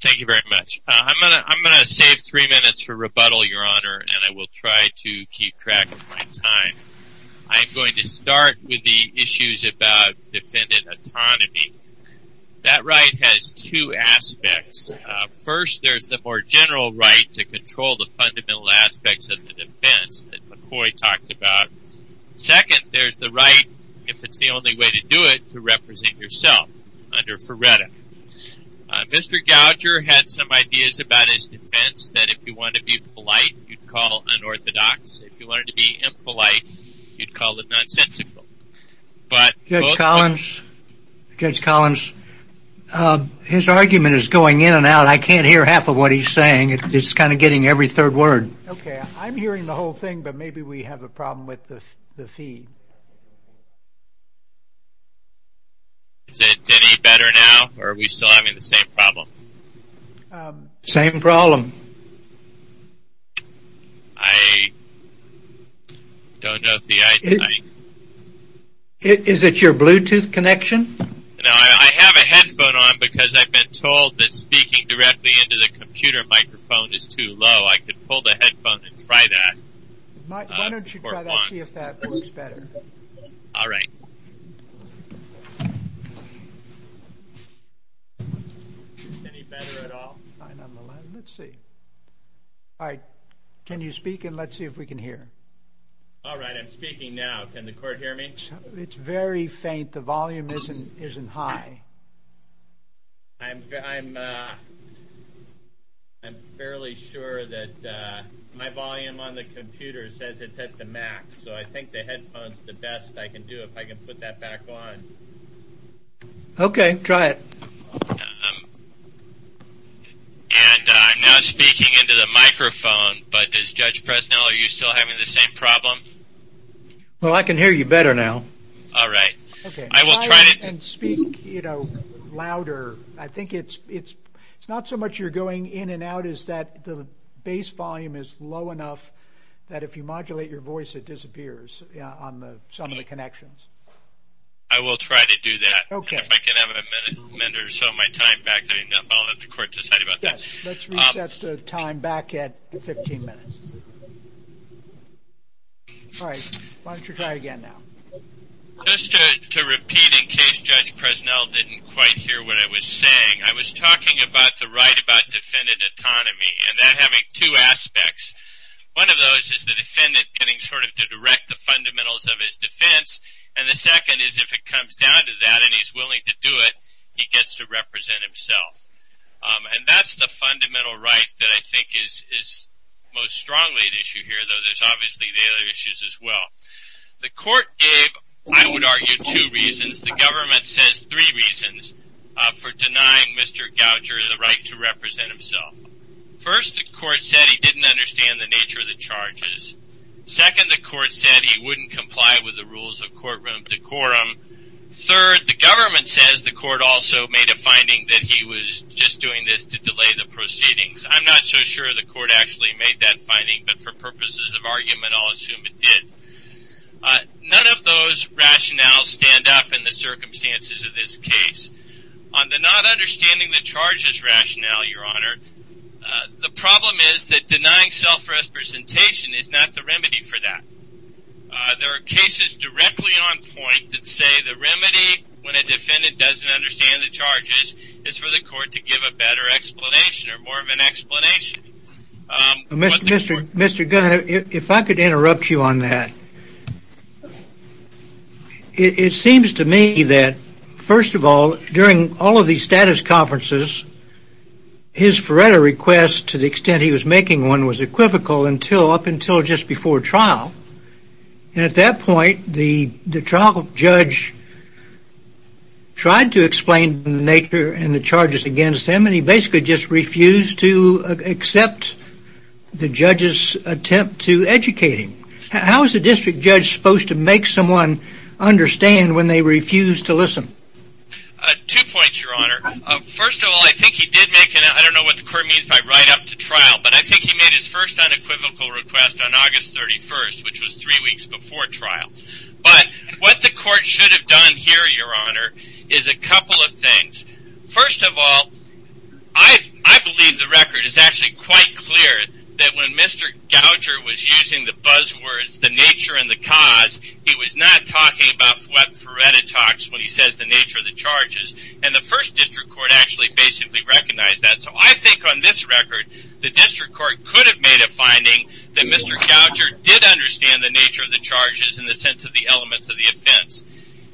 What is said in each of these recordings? Thank you very much. I'm going to save three minutes for rebuttal, Your Honor, and I will try to keep track of my time. I'm going to start with the issues about defendant autonomy. That right has two aspects. First, there's the more general right to control the fundamental aspects of the defense that McCoy talked about. Second, there's the right, if it's the only way to do it, to represent yourself under Furetta. Mr. Gougher had some ideas about his defense that if you wanted to be polite, you'd call unorthodox. If you wanted to be impolite, you'd call it nonsensical. Judge Collins, Judge Collins, his argument is going in and out. I can't hear half of what he's saying. It's kind of getting every third word. Okay, I'm hearing the whole thing, but maybe we have a problem with the feed. Is it any better now, or are we still having the same problem? Same problem. I don't know if the I. Is it your Bluetooth connection? No, I have a headphone on because I've been told that speaking directly into the computer microphone is too low. I could pull the headphone and try that. Why don't you try that and see if that works better? All right. Is it any better at all? Let's see. All right. Can you speak and let's see if we can hear? All right, I'm speaking now. Can the court hear me? It's very faint. The volume isn't high. I'm fairly sure that my volume on the computer says it's at the max, so I think the headphone's the best I can do if I can put that back on. Okay, try it. And I'm now speaking into the microphone, but Judge Presnell, are you still having the same problem? Well, I can hear you better now. All right. Okay, try it and speak, you know, louder. I think it's not so much you're going in and out as that the base volume is low enough that if you modulate your voice, it disappears on some of the connections. I will try to do that. Okay. And if I can have a minute or so of my time back, then I'll let the court decide about that. Yes, let's reset the time back at 15 minutes. All right, why don't you try again now? Just to repeat in case Judge Presnell didn't quite hear what I was saying, I was talking about the right about defendant autonomy and that having two aspects. One of those is the defendant getting sort of to direct the fundamentals of his defense, and the second is if it comes down to that and he's willing to do it, he gets to represent himself. And that's the fundamental right that I think is most strongly at issue here, though there's obviously the other issues as well. The court gave, I would argue, two reasons. The government says three reasons for denying Mr. Gouger the right to represent himself. First, the court said he didn't understand the nature of the charges. Second, the court said he wouldn't comply with the rules of courtroom decorum. Third, the government says the court also made a finding that he was just doing this to delay the proceedings. I'm not so sure the court actually made that finding, but for purposes of argument, I'll assume it did. None of those rationales stand up in the circumstances of this case. On the not understanding the charges rationale, Your Honor, the problem is that denying self-representation is not the remedy for that. There are cases directly on point that say the remedy when a defendant doesn't understand the charges is for the court to give a better explanation or more of an explanation. Mr. Gouger, if I could interrupt you on that. It seems to me that, first of all, during all of these status conferences, his Faretta request, to the extent he was making one, was equivocal up until just before trial. At that point, the trial judge tried to explain the nature and the charges against him, and he basically just refused to accept the judge's attempt to educate him. How is a district judge supposed to make someone understand when they refuse to listen? Two points, Your Honor. First of all, I don't know what the court means by right up to trial, but I think he made his first unequivocal request on August 31st, which was three weeks before trial. But what the court should have done here, Your Honor, is a couple of things. First of all, I believe the record is actually quite clear that when Mr. Gouger was using the buzzwords the nature and the cause, he was not talking about Faretta talks when he says the nature of the charges. And the first district court actually basically recognized that. So I think on this record, the district court could have made a finding that Mr. Gouger did understand the nature of the charges in the sense of the elements of the offense.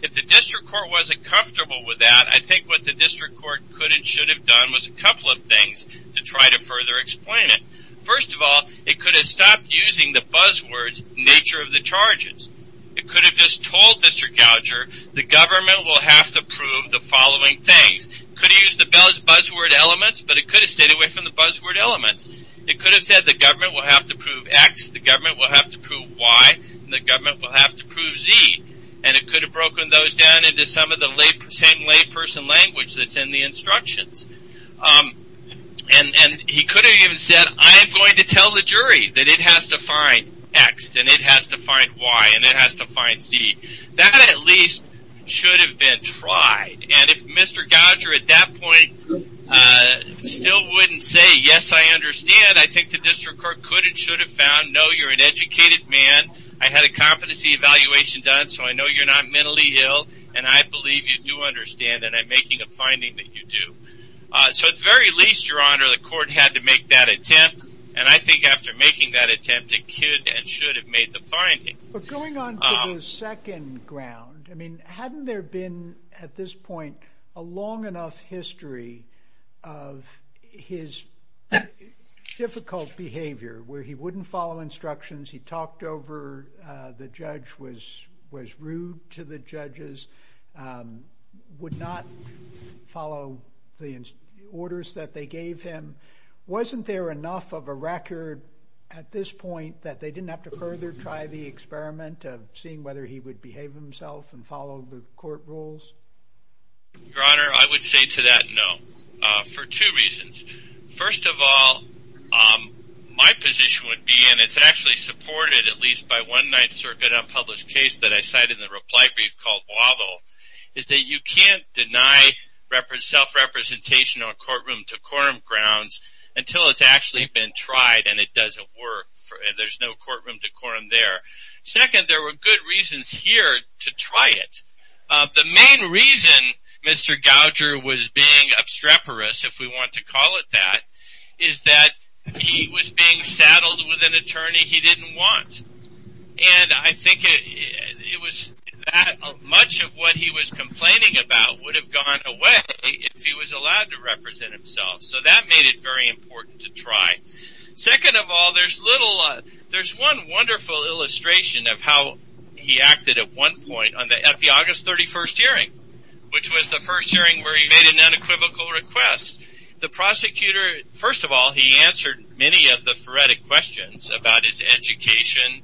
If the district court wasn't comfortable with that, I think what the district court could and should have done was a couple of things to try to further explain it. First of all, it could have stopped using the buzzwords nature of the charges. It could have just told Mr. Gouger the government will have to prove the following things. It could have used the buzzword elements, but it could have stayed away from the buzzword elements. It could have said the government will have to prove X, the government will have to prove Y, and the government will have to prove Z. And it could have broken those down into some of the same layperson language that's in the instructions. And he could have even said, I am going to tell the jury that it has to find X, and it has to find Y, and it has to find Z. That at least should have been tried. And if Mr. Gouger at that point still wouldn't say, yes, I understand, I think the district court could and should have found, no, you're an educated man, I had a competency evaluation done, so I know you're not mentally ill, and I believe you do understand, and I'm making a finding that you do. So at the very least, Your Honor, the court had to make that attempt, and I think after making that attempt, it could and should have made the finding. But going on to the second ground, I mean, hadn't there been, at this point, a long enough history of his difficult behavior where he wouldn't follow instructions, he talked over, the judge was rude to the judges, would not follow the orders that they gave him? Wasn't there enough of a record at this point that they didn't have to further try the experiment of seeing whether he would behave himself and follow the court rules? Your Honor, I would say to that, no, for two reasons. First of all, my position would be, and it's actually supported at least by one Ninth Circuit unpublished case that I cited in the reply brief called Waddle, is that you can't deny self-representation on courtroom decorum grounds until it's actually been tried and it doesn't work, and there's no courtroom decorum there. Second, there were good reasons here to try it. The main reason Mr. Gouger was being obstreperous, if we want to call it that, is that he was being saddled with an attorney he didn't want. And I think much of what he was complaining about would have gone away if he was allowed to represent himself, so that made it very important to try. Second of all, there's one wonderful illustration of how he acted at one point, at the August 31st hearing, which was the first hearing where he made an unequivocal request. The prosecutor, first of all, he answered many of the phoretic questions about his education,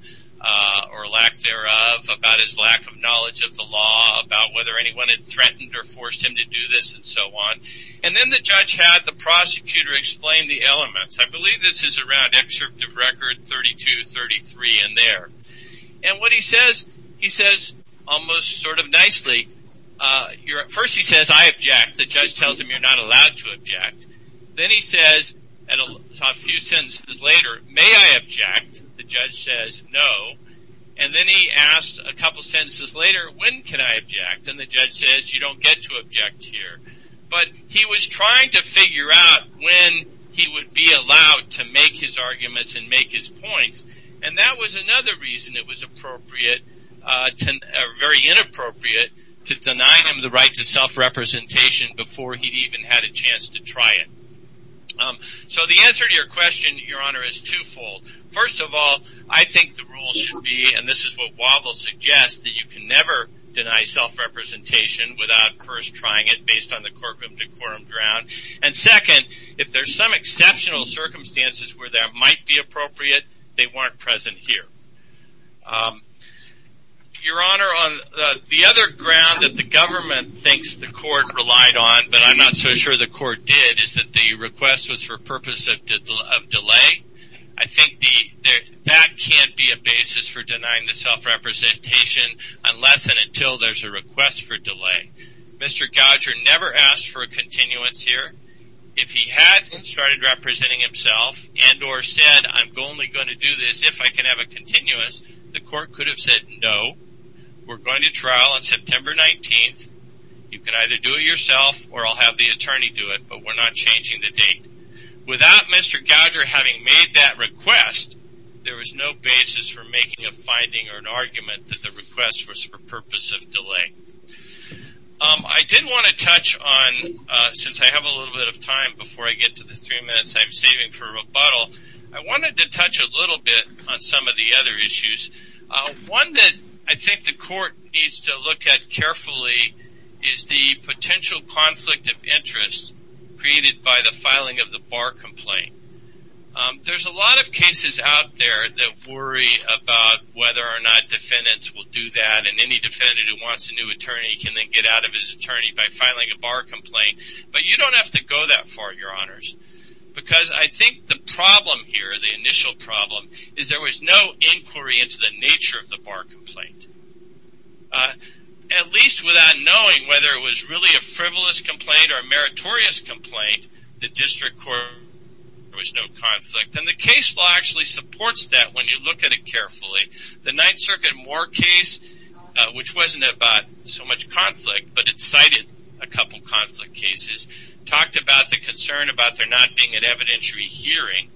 or lack thereof, about his lack of knowledge of the law, about whether anyone had threatened or forced him to do this, and so on. And then the judge had the prosecutor explain the elements. I believe this is around Excerpt of Record 32, 33, and there. First he says, I object. The judge tells him you're not allowed to object. Then he says, a few sentences later, may I object? The judge says, no. And then he asks a couple sentences later, when can I object? And the judge says, you don't get to object here. But he was trying to figure out when he would be allowed to make his arguments and make his points. And that was another reason it was appropriate, or very inappropriate, to deny him the right to self-representation before he'd even had a chance to try it. So the answer to your question, Your Honor, is twofold. First of all, I think the rule should be, and this is what Wavle suggests, that you can never deny self-representation without first trying it based on the quorum to quorum ground. And second, if there's some exceptional circumstances where that might be appropriate, they weren't present here. Your Honor, the other ground that the government thinks the court relied on, but I'm not so sure the court did, is that the request was for purpose of delay. I think that can't be a basis for denying the self-representation unless and until there's a request for delay. Mr. Godger never asked for a continuance here. If he had started representing himself and or said, I'm only going to do this if I can have a continuance, the court could have said no. We're going to trial on September 19th. You can either do it yourself or I'll have the attorney do it, but we're not changing the date. Without Mr. Godger having made that request, there was no basis for making a finding or an argument that the request was for purpose of delay. I did want to touch on, since I have a little bit of time before I get to the three minutes I'm saving for rebuttal, I wanted to touch a little bit on some of the other issues. One that I think the court needs to look at carefully is the potential conflict of interest created by the filing of the bar complaint. There's a lot of cases out there that worry about whether or not defendants will do that, and any defendant who wants a new attorney can then get out of his attorney by filing a bar complaint. But you don't have to go that far, Your Honors, because I think the problem here, the initial problem, is there was no inquiry into the nature of the bar complaint. At least without knowing whether it was really a frivolous complaint or a meritorious complaint, the district court, there was no conflict. And the case law actually supports that when you look at it carefully. The Ninth Circuit Moore case, which wasn't about so much conflict, but it cited a couple conflict cases, talked about the concern about there not being an evidentiary hearing.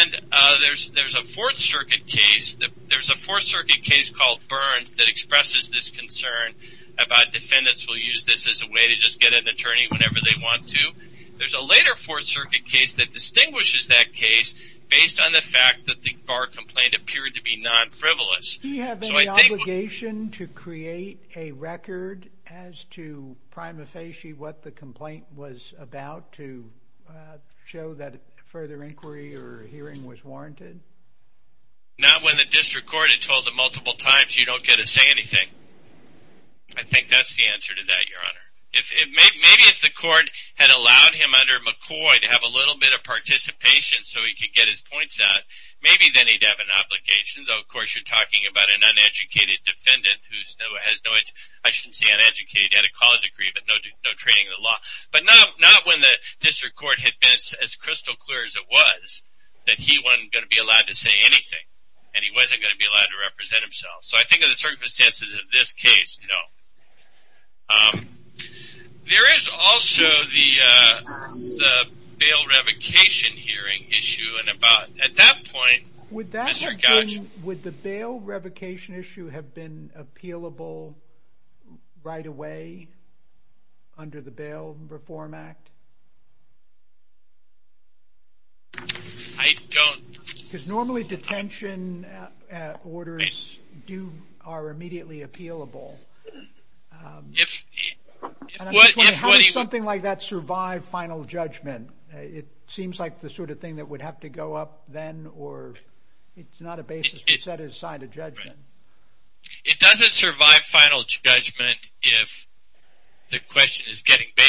And there's a Fourth Circuit case, there's a Fourth Circuit case called Burns that expresses this concern about defendants will use this as a way to just get an attorney whenever they want to. There's a later Fourth Circuit case that distinguishes that case based on the fact that the bar complaint appeared to be non-frivolous. Do you have any obligation to create a record as to prima facie what the complaint was about to show that further inquiry or hearing was warranted? Not when the district court had told them multiple times you don't get to say anything. I think that's the answer to that, Your Honor. Maybe if the court had allowed him under McCoy to have a little bit of participation so he could get his points out, maybe then he'd have an obligation. Of course, you're talking about an uneducated defendant who has no, I shouldn't say uneducated, he had a college degree but no training in the law. But not when the district court had been as crystal clear as it was that he wasn't going to be allowed to say anything and he wasn't going to be allowed to represent himself. So I think of the circumstances of this case, no. There is also the bail revocation hearing issue. At that point, Mr. Gottschall... Would the bail revocation issue have been appealable right away under the Bail Reform Act? I don't... Because normally detention orders are immediately appealable. How does something like that survive final judgment? It seems like the sort of thing that would have to go up then or... It's not a basis to set aside a judgment. It doesn't survive final judgment if the question is getting bailed.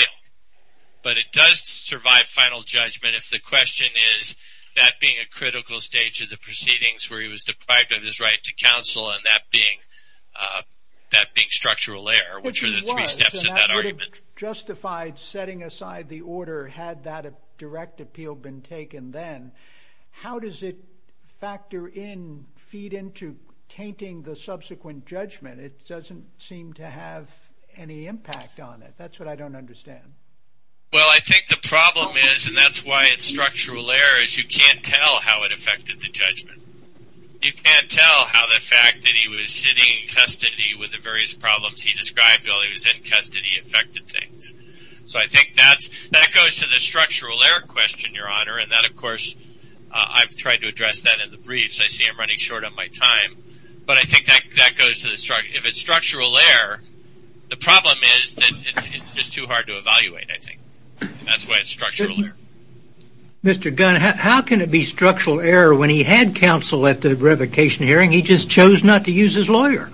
But it does survive final judgment if the question is that being a critical stage of the proceedings where he was deprived of his right to counsel and that being structural error, which are the three steps in that argument. That would have justified setting aside the order had that direct appeal been taken then. How does it factor in, feed into, tainting the subsequent judgment? It doesn't seem to have any impact on it. That's what I don't understand. Well, I think the problem is, and that's why it's structural error, is you can't tell how it affected the judgment. You can't tell how the fact that he was sitting in custody with the various problems he described, while he was in custody, affected things. So I think that goes to the structural error question, Your Honor. And that, of course, I've tried to address that in the brief. So I see I'm running short on my time. But I think that goes to the structural error. The problem is that it's just too hard to evaluate, I think. That's why it's structural error. Mr. Gunn, how can it be structural error when he had counsel at the revocation hearing, he just chose not to use his lawyer?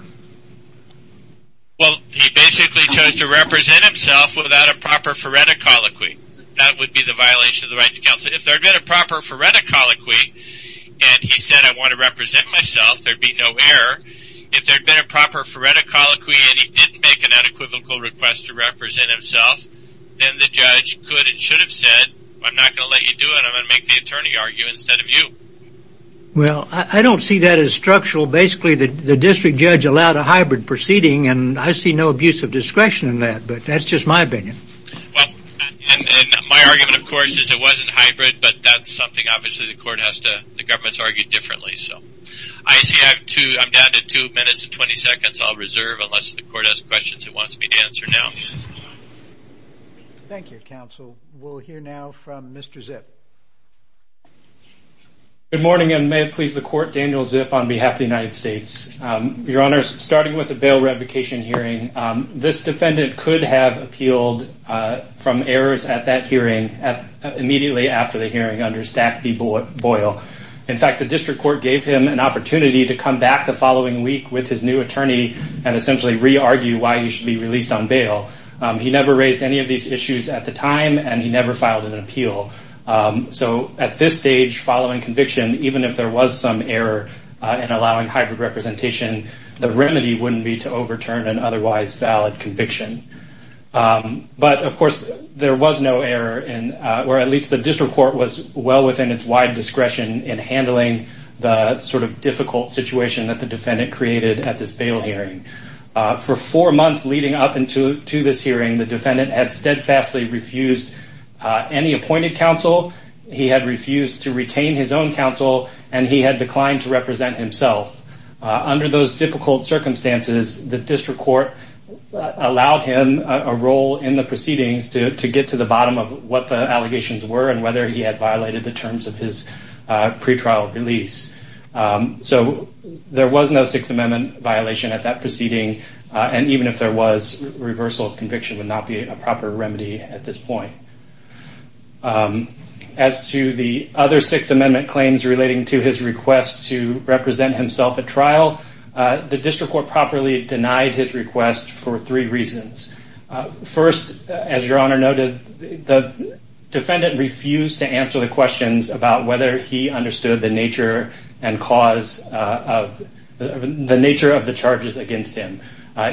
Well, he basically chose to represent himself without a proper phoretic colloquy. That would be the violation of the right to counsel. If there had been a proper phoretic colloquy and he said, I want to represent myself, there would be no error. If there had been a proper phoretic colloquy and he didn't make an unequivocal request to represent himself, then the judge could and should have said, I'm not going to let you do it. I'm going to make the attorney argue instead of you. Well, I don't see that as structural. Basically, the district judge allowed a hybrid proceeding, and I see no abuse of discretion in that. But that's just my opinion. Well, and my argument, of course, is it wasn't hybrid, but that's something obviously the government has to argue differently. I see I'm down to two minutes and 20 seconds. I'll reserve unless the court has questions it wants me to answer now. Thank you, counsel. We'll hear now from Mr. Zipf. Good morning, and may it please the court, Daniel Zipf on behalf of the United States. Your Honor, starting with the bail revocation hearing, this defendant could have appealed from errors at that hearing immediately after the hearing under Stack v. Boyle. In fact, the district court gave him an opportunity to come back the following week with his new attorney and essentially re-argue why he should be released on bail. He never raised any of these issues at the time, and he never filed an appeal. So at this stage following conviction, even if there was some error in allowing hybrid representation, the remedy wouldn't be to overturn an otherwise valid conviction. But, of course, there was no error, or at least the district court was well within its wide discretion in handling the sort of difficult situation that the defendant created at this bail hearing. For four months leading up to this hearing, the defendant had steadfastly refused any appointed counsel. He had refused to retain his own counsel, and he had declined to represent himself. Under those difficult circumstances, the district court allowed him a role in the proceedings to get to the bottom of what the allegations were and whether he had violated the terms of his pretrial release. So there was no Sixth Amendment violation at that proceeding, and even if there was, reversal of conviction would not be a proper remedy at this point. As to the other Sixth Amendment claims relating to his request to represent himself at trial, the district court properly denied his request for three reasons. First, as Your Honor noted, the defendant refused to answer the questions about whether he understood the nature of the charges against him.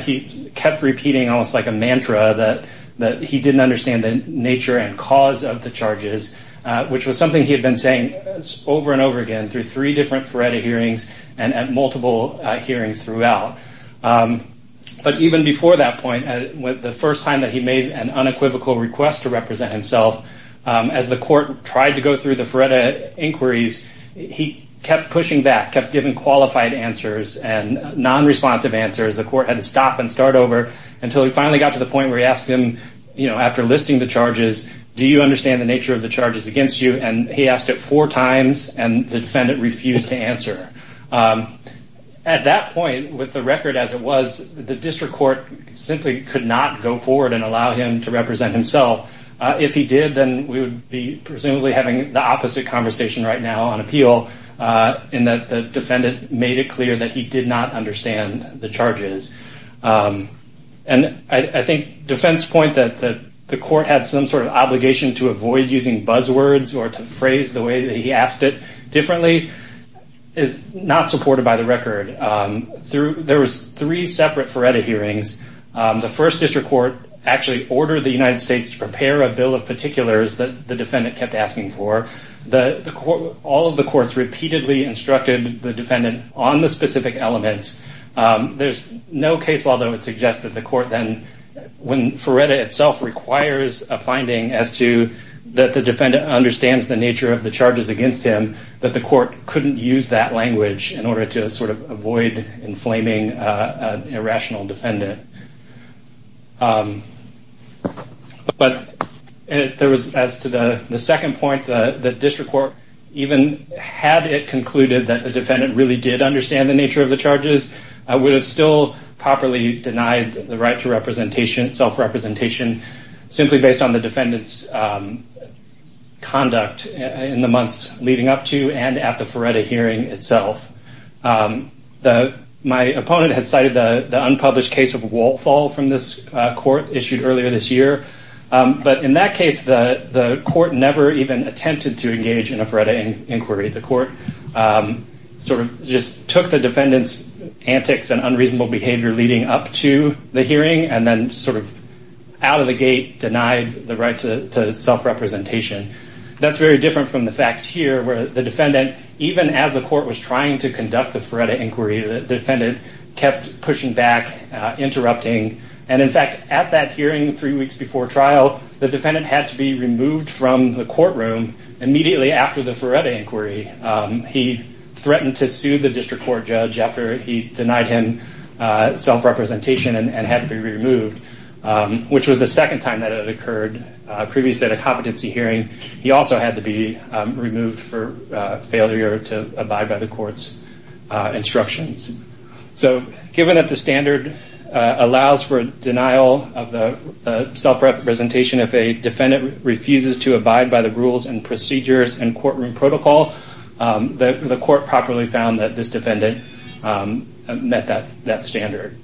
He kept repeating almost like a mantra that he didn't understand the nature and cause of the charges, which was something he had been saying over and over again through three different Feretta hearings and at multiple hearings throughout. But even before that point, the first time that he made an unequivocal request to represent himself, as the court tried to go through the Feretta inquiries, he kept pushing back, kept giving qualified answers and non-responsive answers. The court had to stop and start over until he finally got to the point where he asked him, after listing the charges, do you understand the nature of the charges against you? And he asked it four times, and the defendant refused to answer. At that point, with the record as it was, the district court simply could not go forward and allow him to represent himself. If he did, then we would be presumably having the opposite conversation right now on appeal, in that the defendant made it clear that he did not understand the charges. And I think defense's point that the court had some sort of obligation to avoid using buzzwords or to phrase the way that he asked it differently is not supported by the record. There was three separate Feretta hearings. The first district court actually ordered the United States to prepare a bill of particulars that the defendant kept asking for. All of the courts repeatedly instructed the defendant on the specific elements. There's no case law that would suggest that the court then, when Feretta itself requires a finding as to that the defendant understands the nature of the charges against him, that the court couldn't use that language in order to sort of avoid inflaming an irrational defendant. But there was, as to the second point, the district court even had it concluded that the defendant really did understand the nature of the charges, would have still properly denied the right to self-representation, simply based on the defendant's conduct in the months leading up to and at the Feretta hearing itself. My opponent had cited the unpublished case of Walthall from this court issued earlier this year. But in that case, the court never even attempted to engage in a Feretta inquiry. The court sort of just took the defendant's antics and unreasonable behavior leading up to the hearing and then sort of out of the gate denied the right to self-representation. That's very different from the facts here where the defendant, even as the court was trying to conduct the Feretta inquiry, the defendant kept pushing back, interrupting. And in fact, at that hearing three weeks before trial, the defendant had to be removed from the courtroom immediately after the Feretta inquiry. He threatened to sue the district court judge after he denied him self-representation and had to be removed, which was the second time that it occurred. Previously at a competency hearing, he also had to be removed for failure to abide by the court's instructions. So given that the standard allows for denial of the self-representation, if a defendant refuses to abide by the rules and procedures and courtroom protocol, the court properly found that this defendant met that standard.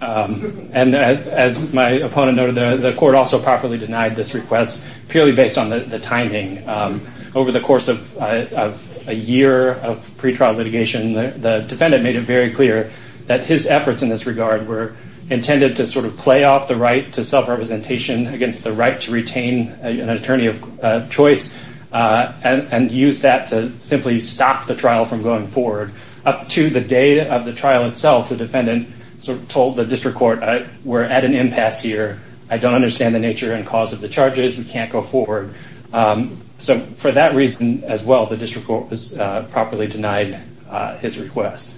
And as my opponent noted, the court also properly denied this request purely based on the timing. Over the course of a year of pretrial litigation, the defendant made it very clear that his efforts in this regard were intended to sort of play off the right to self-representation against the right to retain an attorney of choice and use that to simply stop the trial from going forward. Up to the day of the trial itself, the defendant told the district court, we're at an impasse here. I don't understand the nature and cause of the charges. We can't go forward. So for that reason as well, the district court was properly denied his request.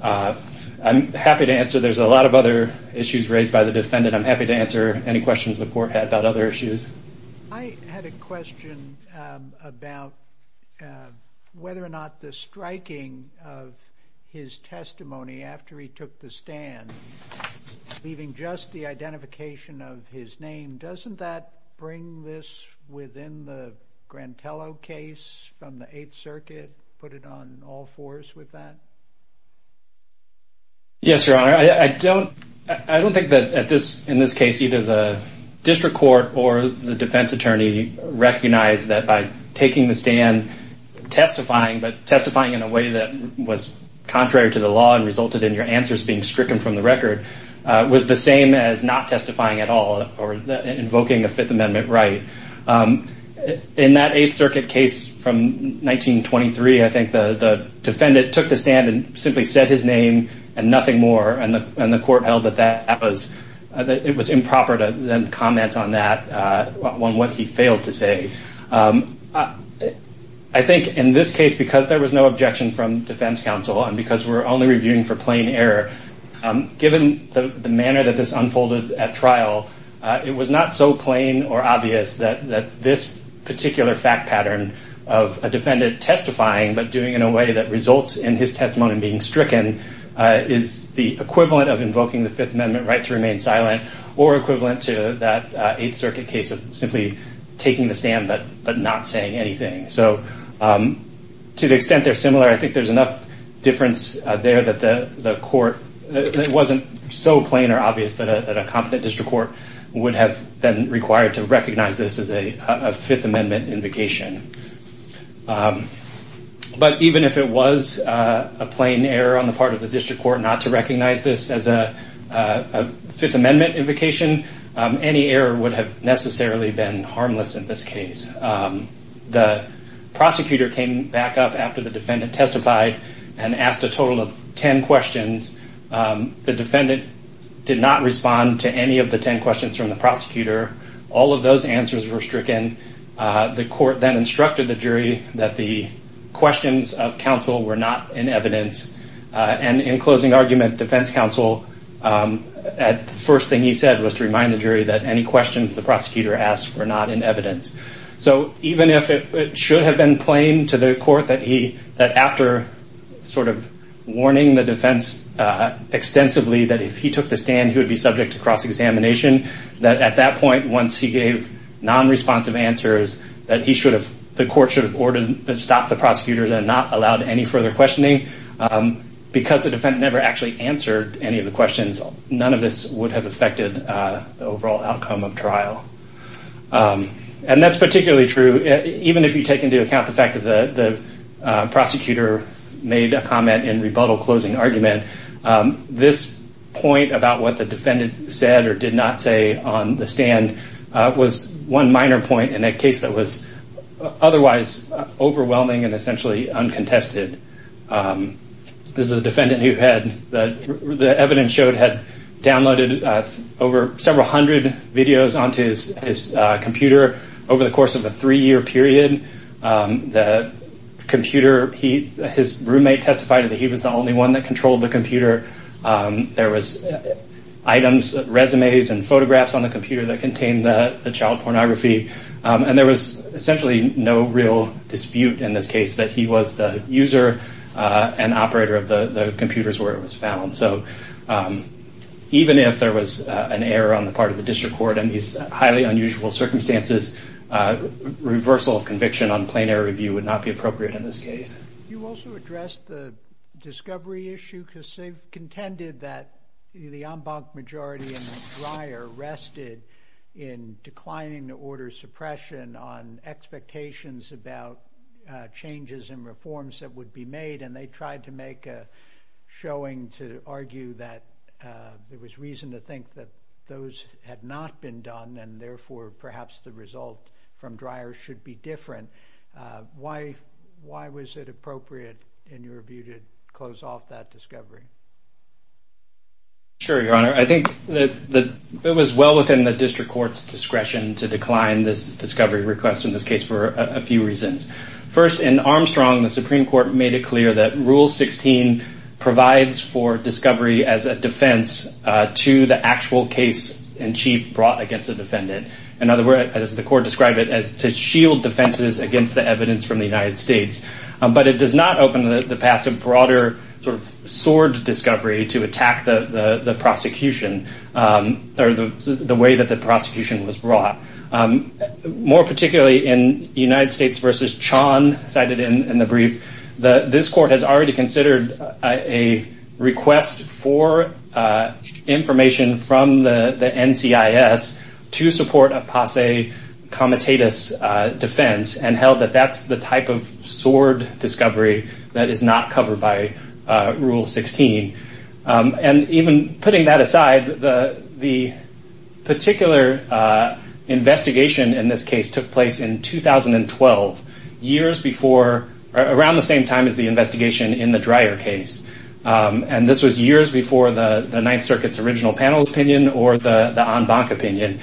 I'm happy to answer. There's a lot of other issues raised by the defendant. I'm happy to answer any questions the court had about other issues. I had a question about whether or not the striking of his testimony after he took the stand, leaving just the identification of his name, doesn't that bring this within the Grantello case from the Eighth Circuit, put it on all fours with that? Yes, Your Honor. I don't think that in this case either the district court or the defense attorney recognized that by taking the stand, testifying, but testifying in a way that was contrary to the law and resulted in your answers being stricken from the record, was the same as not testifying at all or invoking a Fifth Amendment right. In that Eighth Circuit case from 1923, I think the defendant took the stand and simply said his name and nothing more, and the court held that it was improper to then comment on that, on what he failed to say. I think in this case, because there was no objection from defense counsel and because we're only reviewing for plain error, given the manner that this unfolded at trial, it was not so plain or obvious that this particular fact pattern of a defendant testifying but doing it in a way that results in his testimony being stricken is the equivalent of invoking the Fifth Amendment right to remain silent or equivalent to that Eighth Circuit case of simply taking the stand but not saying anything. So to the extent they're similar, I think there's enough difference there that the court, it wasn't so plain or obvious that a competent district court would have been required to recognize this as a Fifth Amendment invocation. But even if it was a plain error on the part of the district court not to recognize this as a Fifth Amendment invocation, any error would have necessarily been harmless in this case. The prosecutor came back up after the defendant testified and asked a total of 10 questions. The defendant did not respond to any of the 10 questions from the prosecutor. All of those answers were stricken. The court then instructed the jury that the questions of counsel were not in evidence, and in closing argument, defense counsel, the first thing he said was to remind the jury that any questions the prosecutor asked were not in evidence. So even if it should have been plain to the court that after sort of warning the defense extensively that if he took the stand, he would be subject to cross-examination, that at that point, once he gave non-responsive answers, that the court should have stopped the prosecutor and not allowed any further questioning. Because the defendant never actually answered any of the questions, none of this would have affected the overall outcome of trial. And that's particularly true even if you take into account the fact that the prosecutor made a comment in rebuttal closing argument. This point about what the defendant said or did not say on the stand was one minor point in a case that was otherwise overwhelming and essentially uncontested. This is a defendant who had, the evidence showed, had downloaded over several hundred videos onto his computer over the course of a three-year period. The computer, his roommate testified that he was the only one that controlled the computer. There was items, resumes and photographs on the computer that contained the child pornography. And there was essentially no real dispute in this case that he was the user and operator of the computers where it was found. So even if there was an error on the part of the district court in these highly unusual circumstances, reversal of conviction on plain error review would not be appropriate in this case. You also addressed the discovery issue because they've contended that the en banc majority in Dreyer rested in declining to order suppression on expectations about changes and reforms that would be made. And they tried to make a showing to argue that there was reason to think that those had not been done and therefore perhaps the result from Dreyer should be different. Why was it appropriate in your view to close off that discovery? Sure, Your Honor. I think that it was well within the district court's discretion to decline this discovery request in this case for a few reasons. First, in Armstrong, the Supreme Court made it clear that Rule 16 provides for discovery as a defense to the actual case in chief brought against the defendant. In other words, as the court described it, to shield defenses against the evidence from the United States. But it does not open the path to broader sort of sword discovery to attack the prosecution or the way that the prosecution was brought. More particularly in United States v. Chaun cited in the brief, this court has already considered a request for information from the NCIS to support a passe comitatus defense and held that that's the type of sword discovery that is not covered by Rule 16. And even putting that aside, the particular investigation in this case took place in 2012, around the same time as the investigation in the Dreyer case. And this was years before the Ninth Circuit's original panel opinion or the en banc opinion.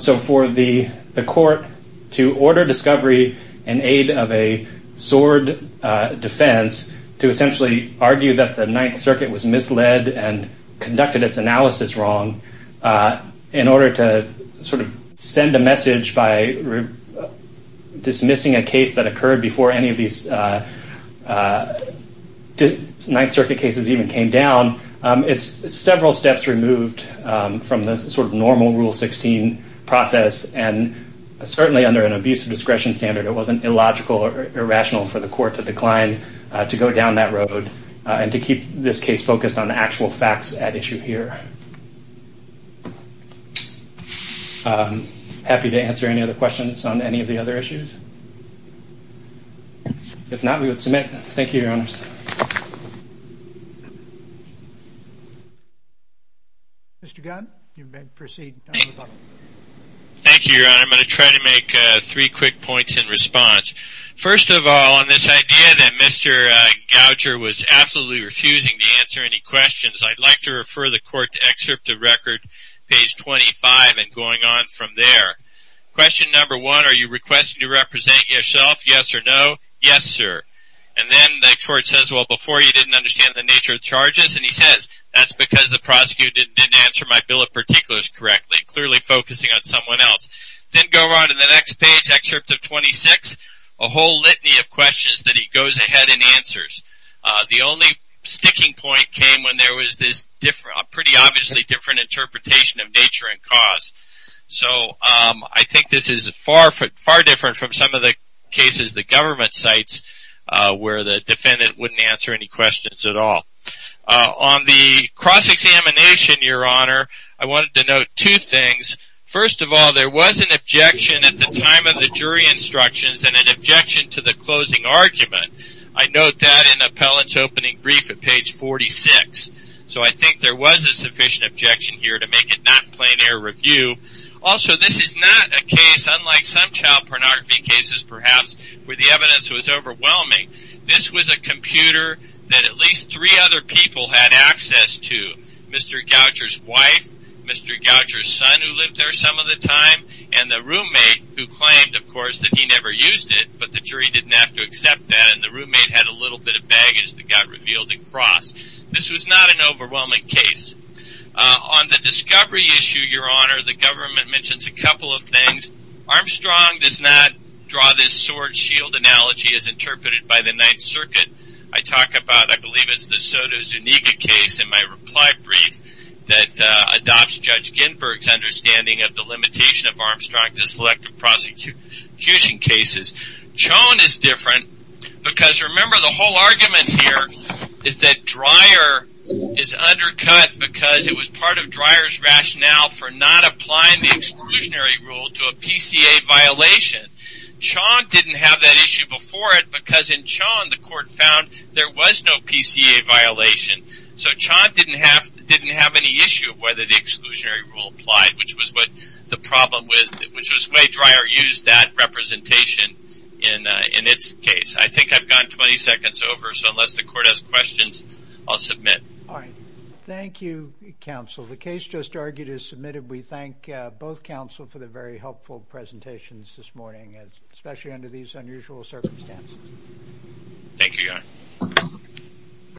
So for the court to order discovery in aid of a sword defense, to essentially argue that the Ninth Circuit was misled and conducted its analysis wrong, in order to sort of send a message by dismissing a case that occurred before any of these Ninth Circuit cases even came down, it's several steps removed from the sort of normal Rule 16 process. And certainly under an abuse of discretion standard, it wasn't illogical or irrational for the court to decline to go down that road and to keep this case focused on the actual facts at issue here. I'm happy to answer any other questions on any of the other issues. If not, we would submit. Thank you, Your Honors. Mr. Gunn, you may proceed. Thank you, Your Honor. I'm going to try to make three quick points in response. First of all, on this idea that Mr. Goucher was absolutely refusing to answer any questions, I'd like to refer the court to excerpt of record, page 25, and going on from there. Question number one, are you requesting to represent yourself, yes or no? Yes, sir. And then the court says, well, before you didn't understand the nature of the charges. And he says, that's because the prosecutor didn't answer my bill of particulars correctly, clearly focusing on someone else. Then go on to the next page, excerpt of 26. A whole litany of questions that he goes ahead and answers. The only sticking point came when there was this pretty obviously different interpretation of nature and cause. So I think this is far different from some of the cases the government cites where the defendant wouldn't answer any questions at all. On the cross-examination, Your Honor, I wanted to note two things. First of all, there was an objection at the time of the jury instructions and an objection to the closing argument. I note that in the appellant's opening brief at page 46. So I think there was a sufficient objection here to make it not plain error review. Also, this is not a case, unlike some child pornography cases perhaps, where the evidence was overwhelming. This was a computer that at least three other people had access to. Mr. Goucher's wife, Mr. Goucher's son who lived there some of the time, and the roommate who claimed, of course, that he never used it. But the jury didn't have to accept that, and the roommate had a little bit of baggage that got revealed at cross. This was not an overwhelming case. On the discovery issue, Your Honor, the government mentions a couple of things. Armstrong does not draw this sword-shield analogy as interpreted by the Ninth Circuit. I talk about, I believe it's the Sotomayor Zuniga case in my reply brief that adopts Judge Ginberg's understanding of the limitation of Armstrong to selective prosecution cases. Chone is different because remember the whole argument here is that Dreyer is undercut because it was part of Dreyer's rationale for not applying the exclusionary rule to a PCA violation. Chone didn't have that issue before it because in Chone the court found there was no PCA violation. So Chone didn't have any issue whether the exclusionary rule applied, which was what the problem was, which was why Dreyer used that representation in its case. I think I've gone 20 seconds over, so unless the court has questions, I'll submit. All right. Thank you, counsel. The case just argued is submitted. We thank both counsel for the very helpful presentations this morning, especially under these unusual circumstances.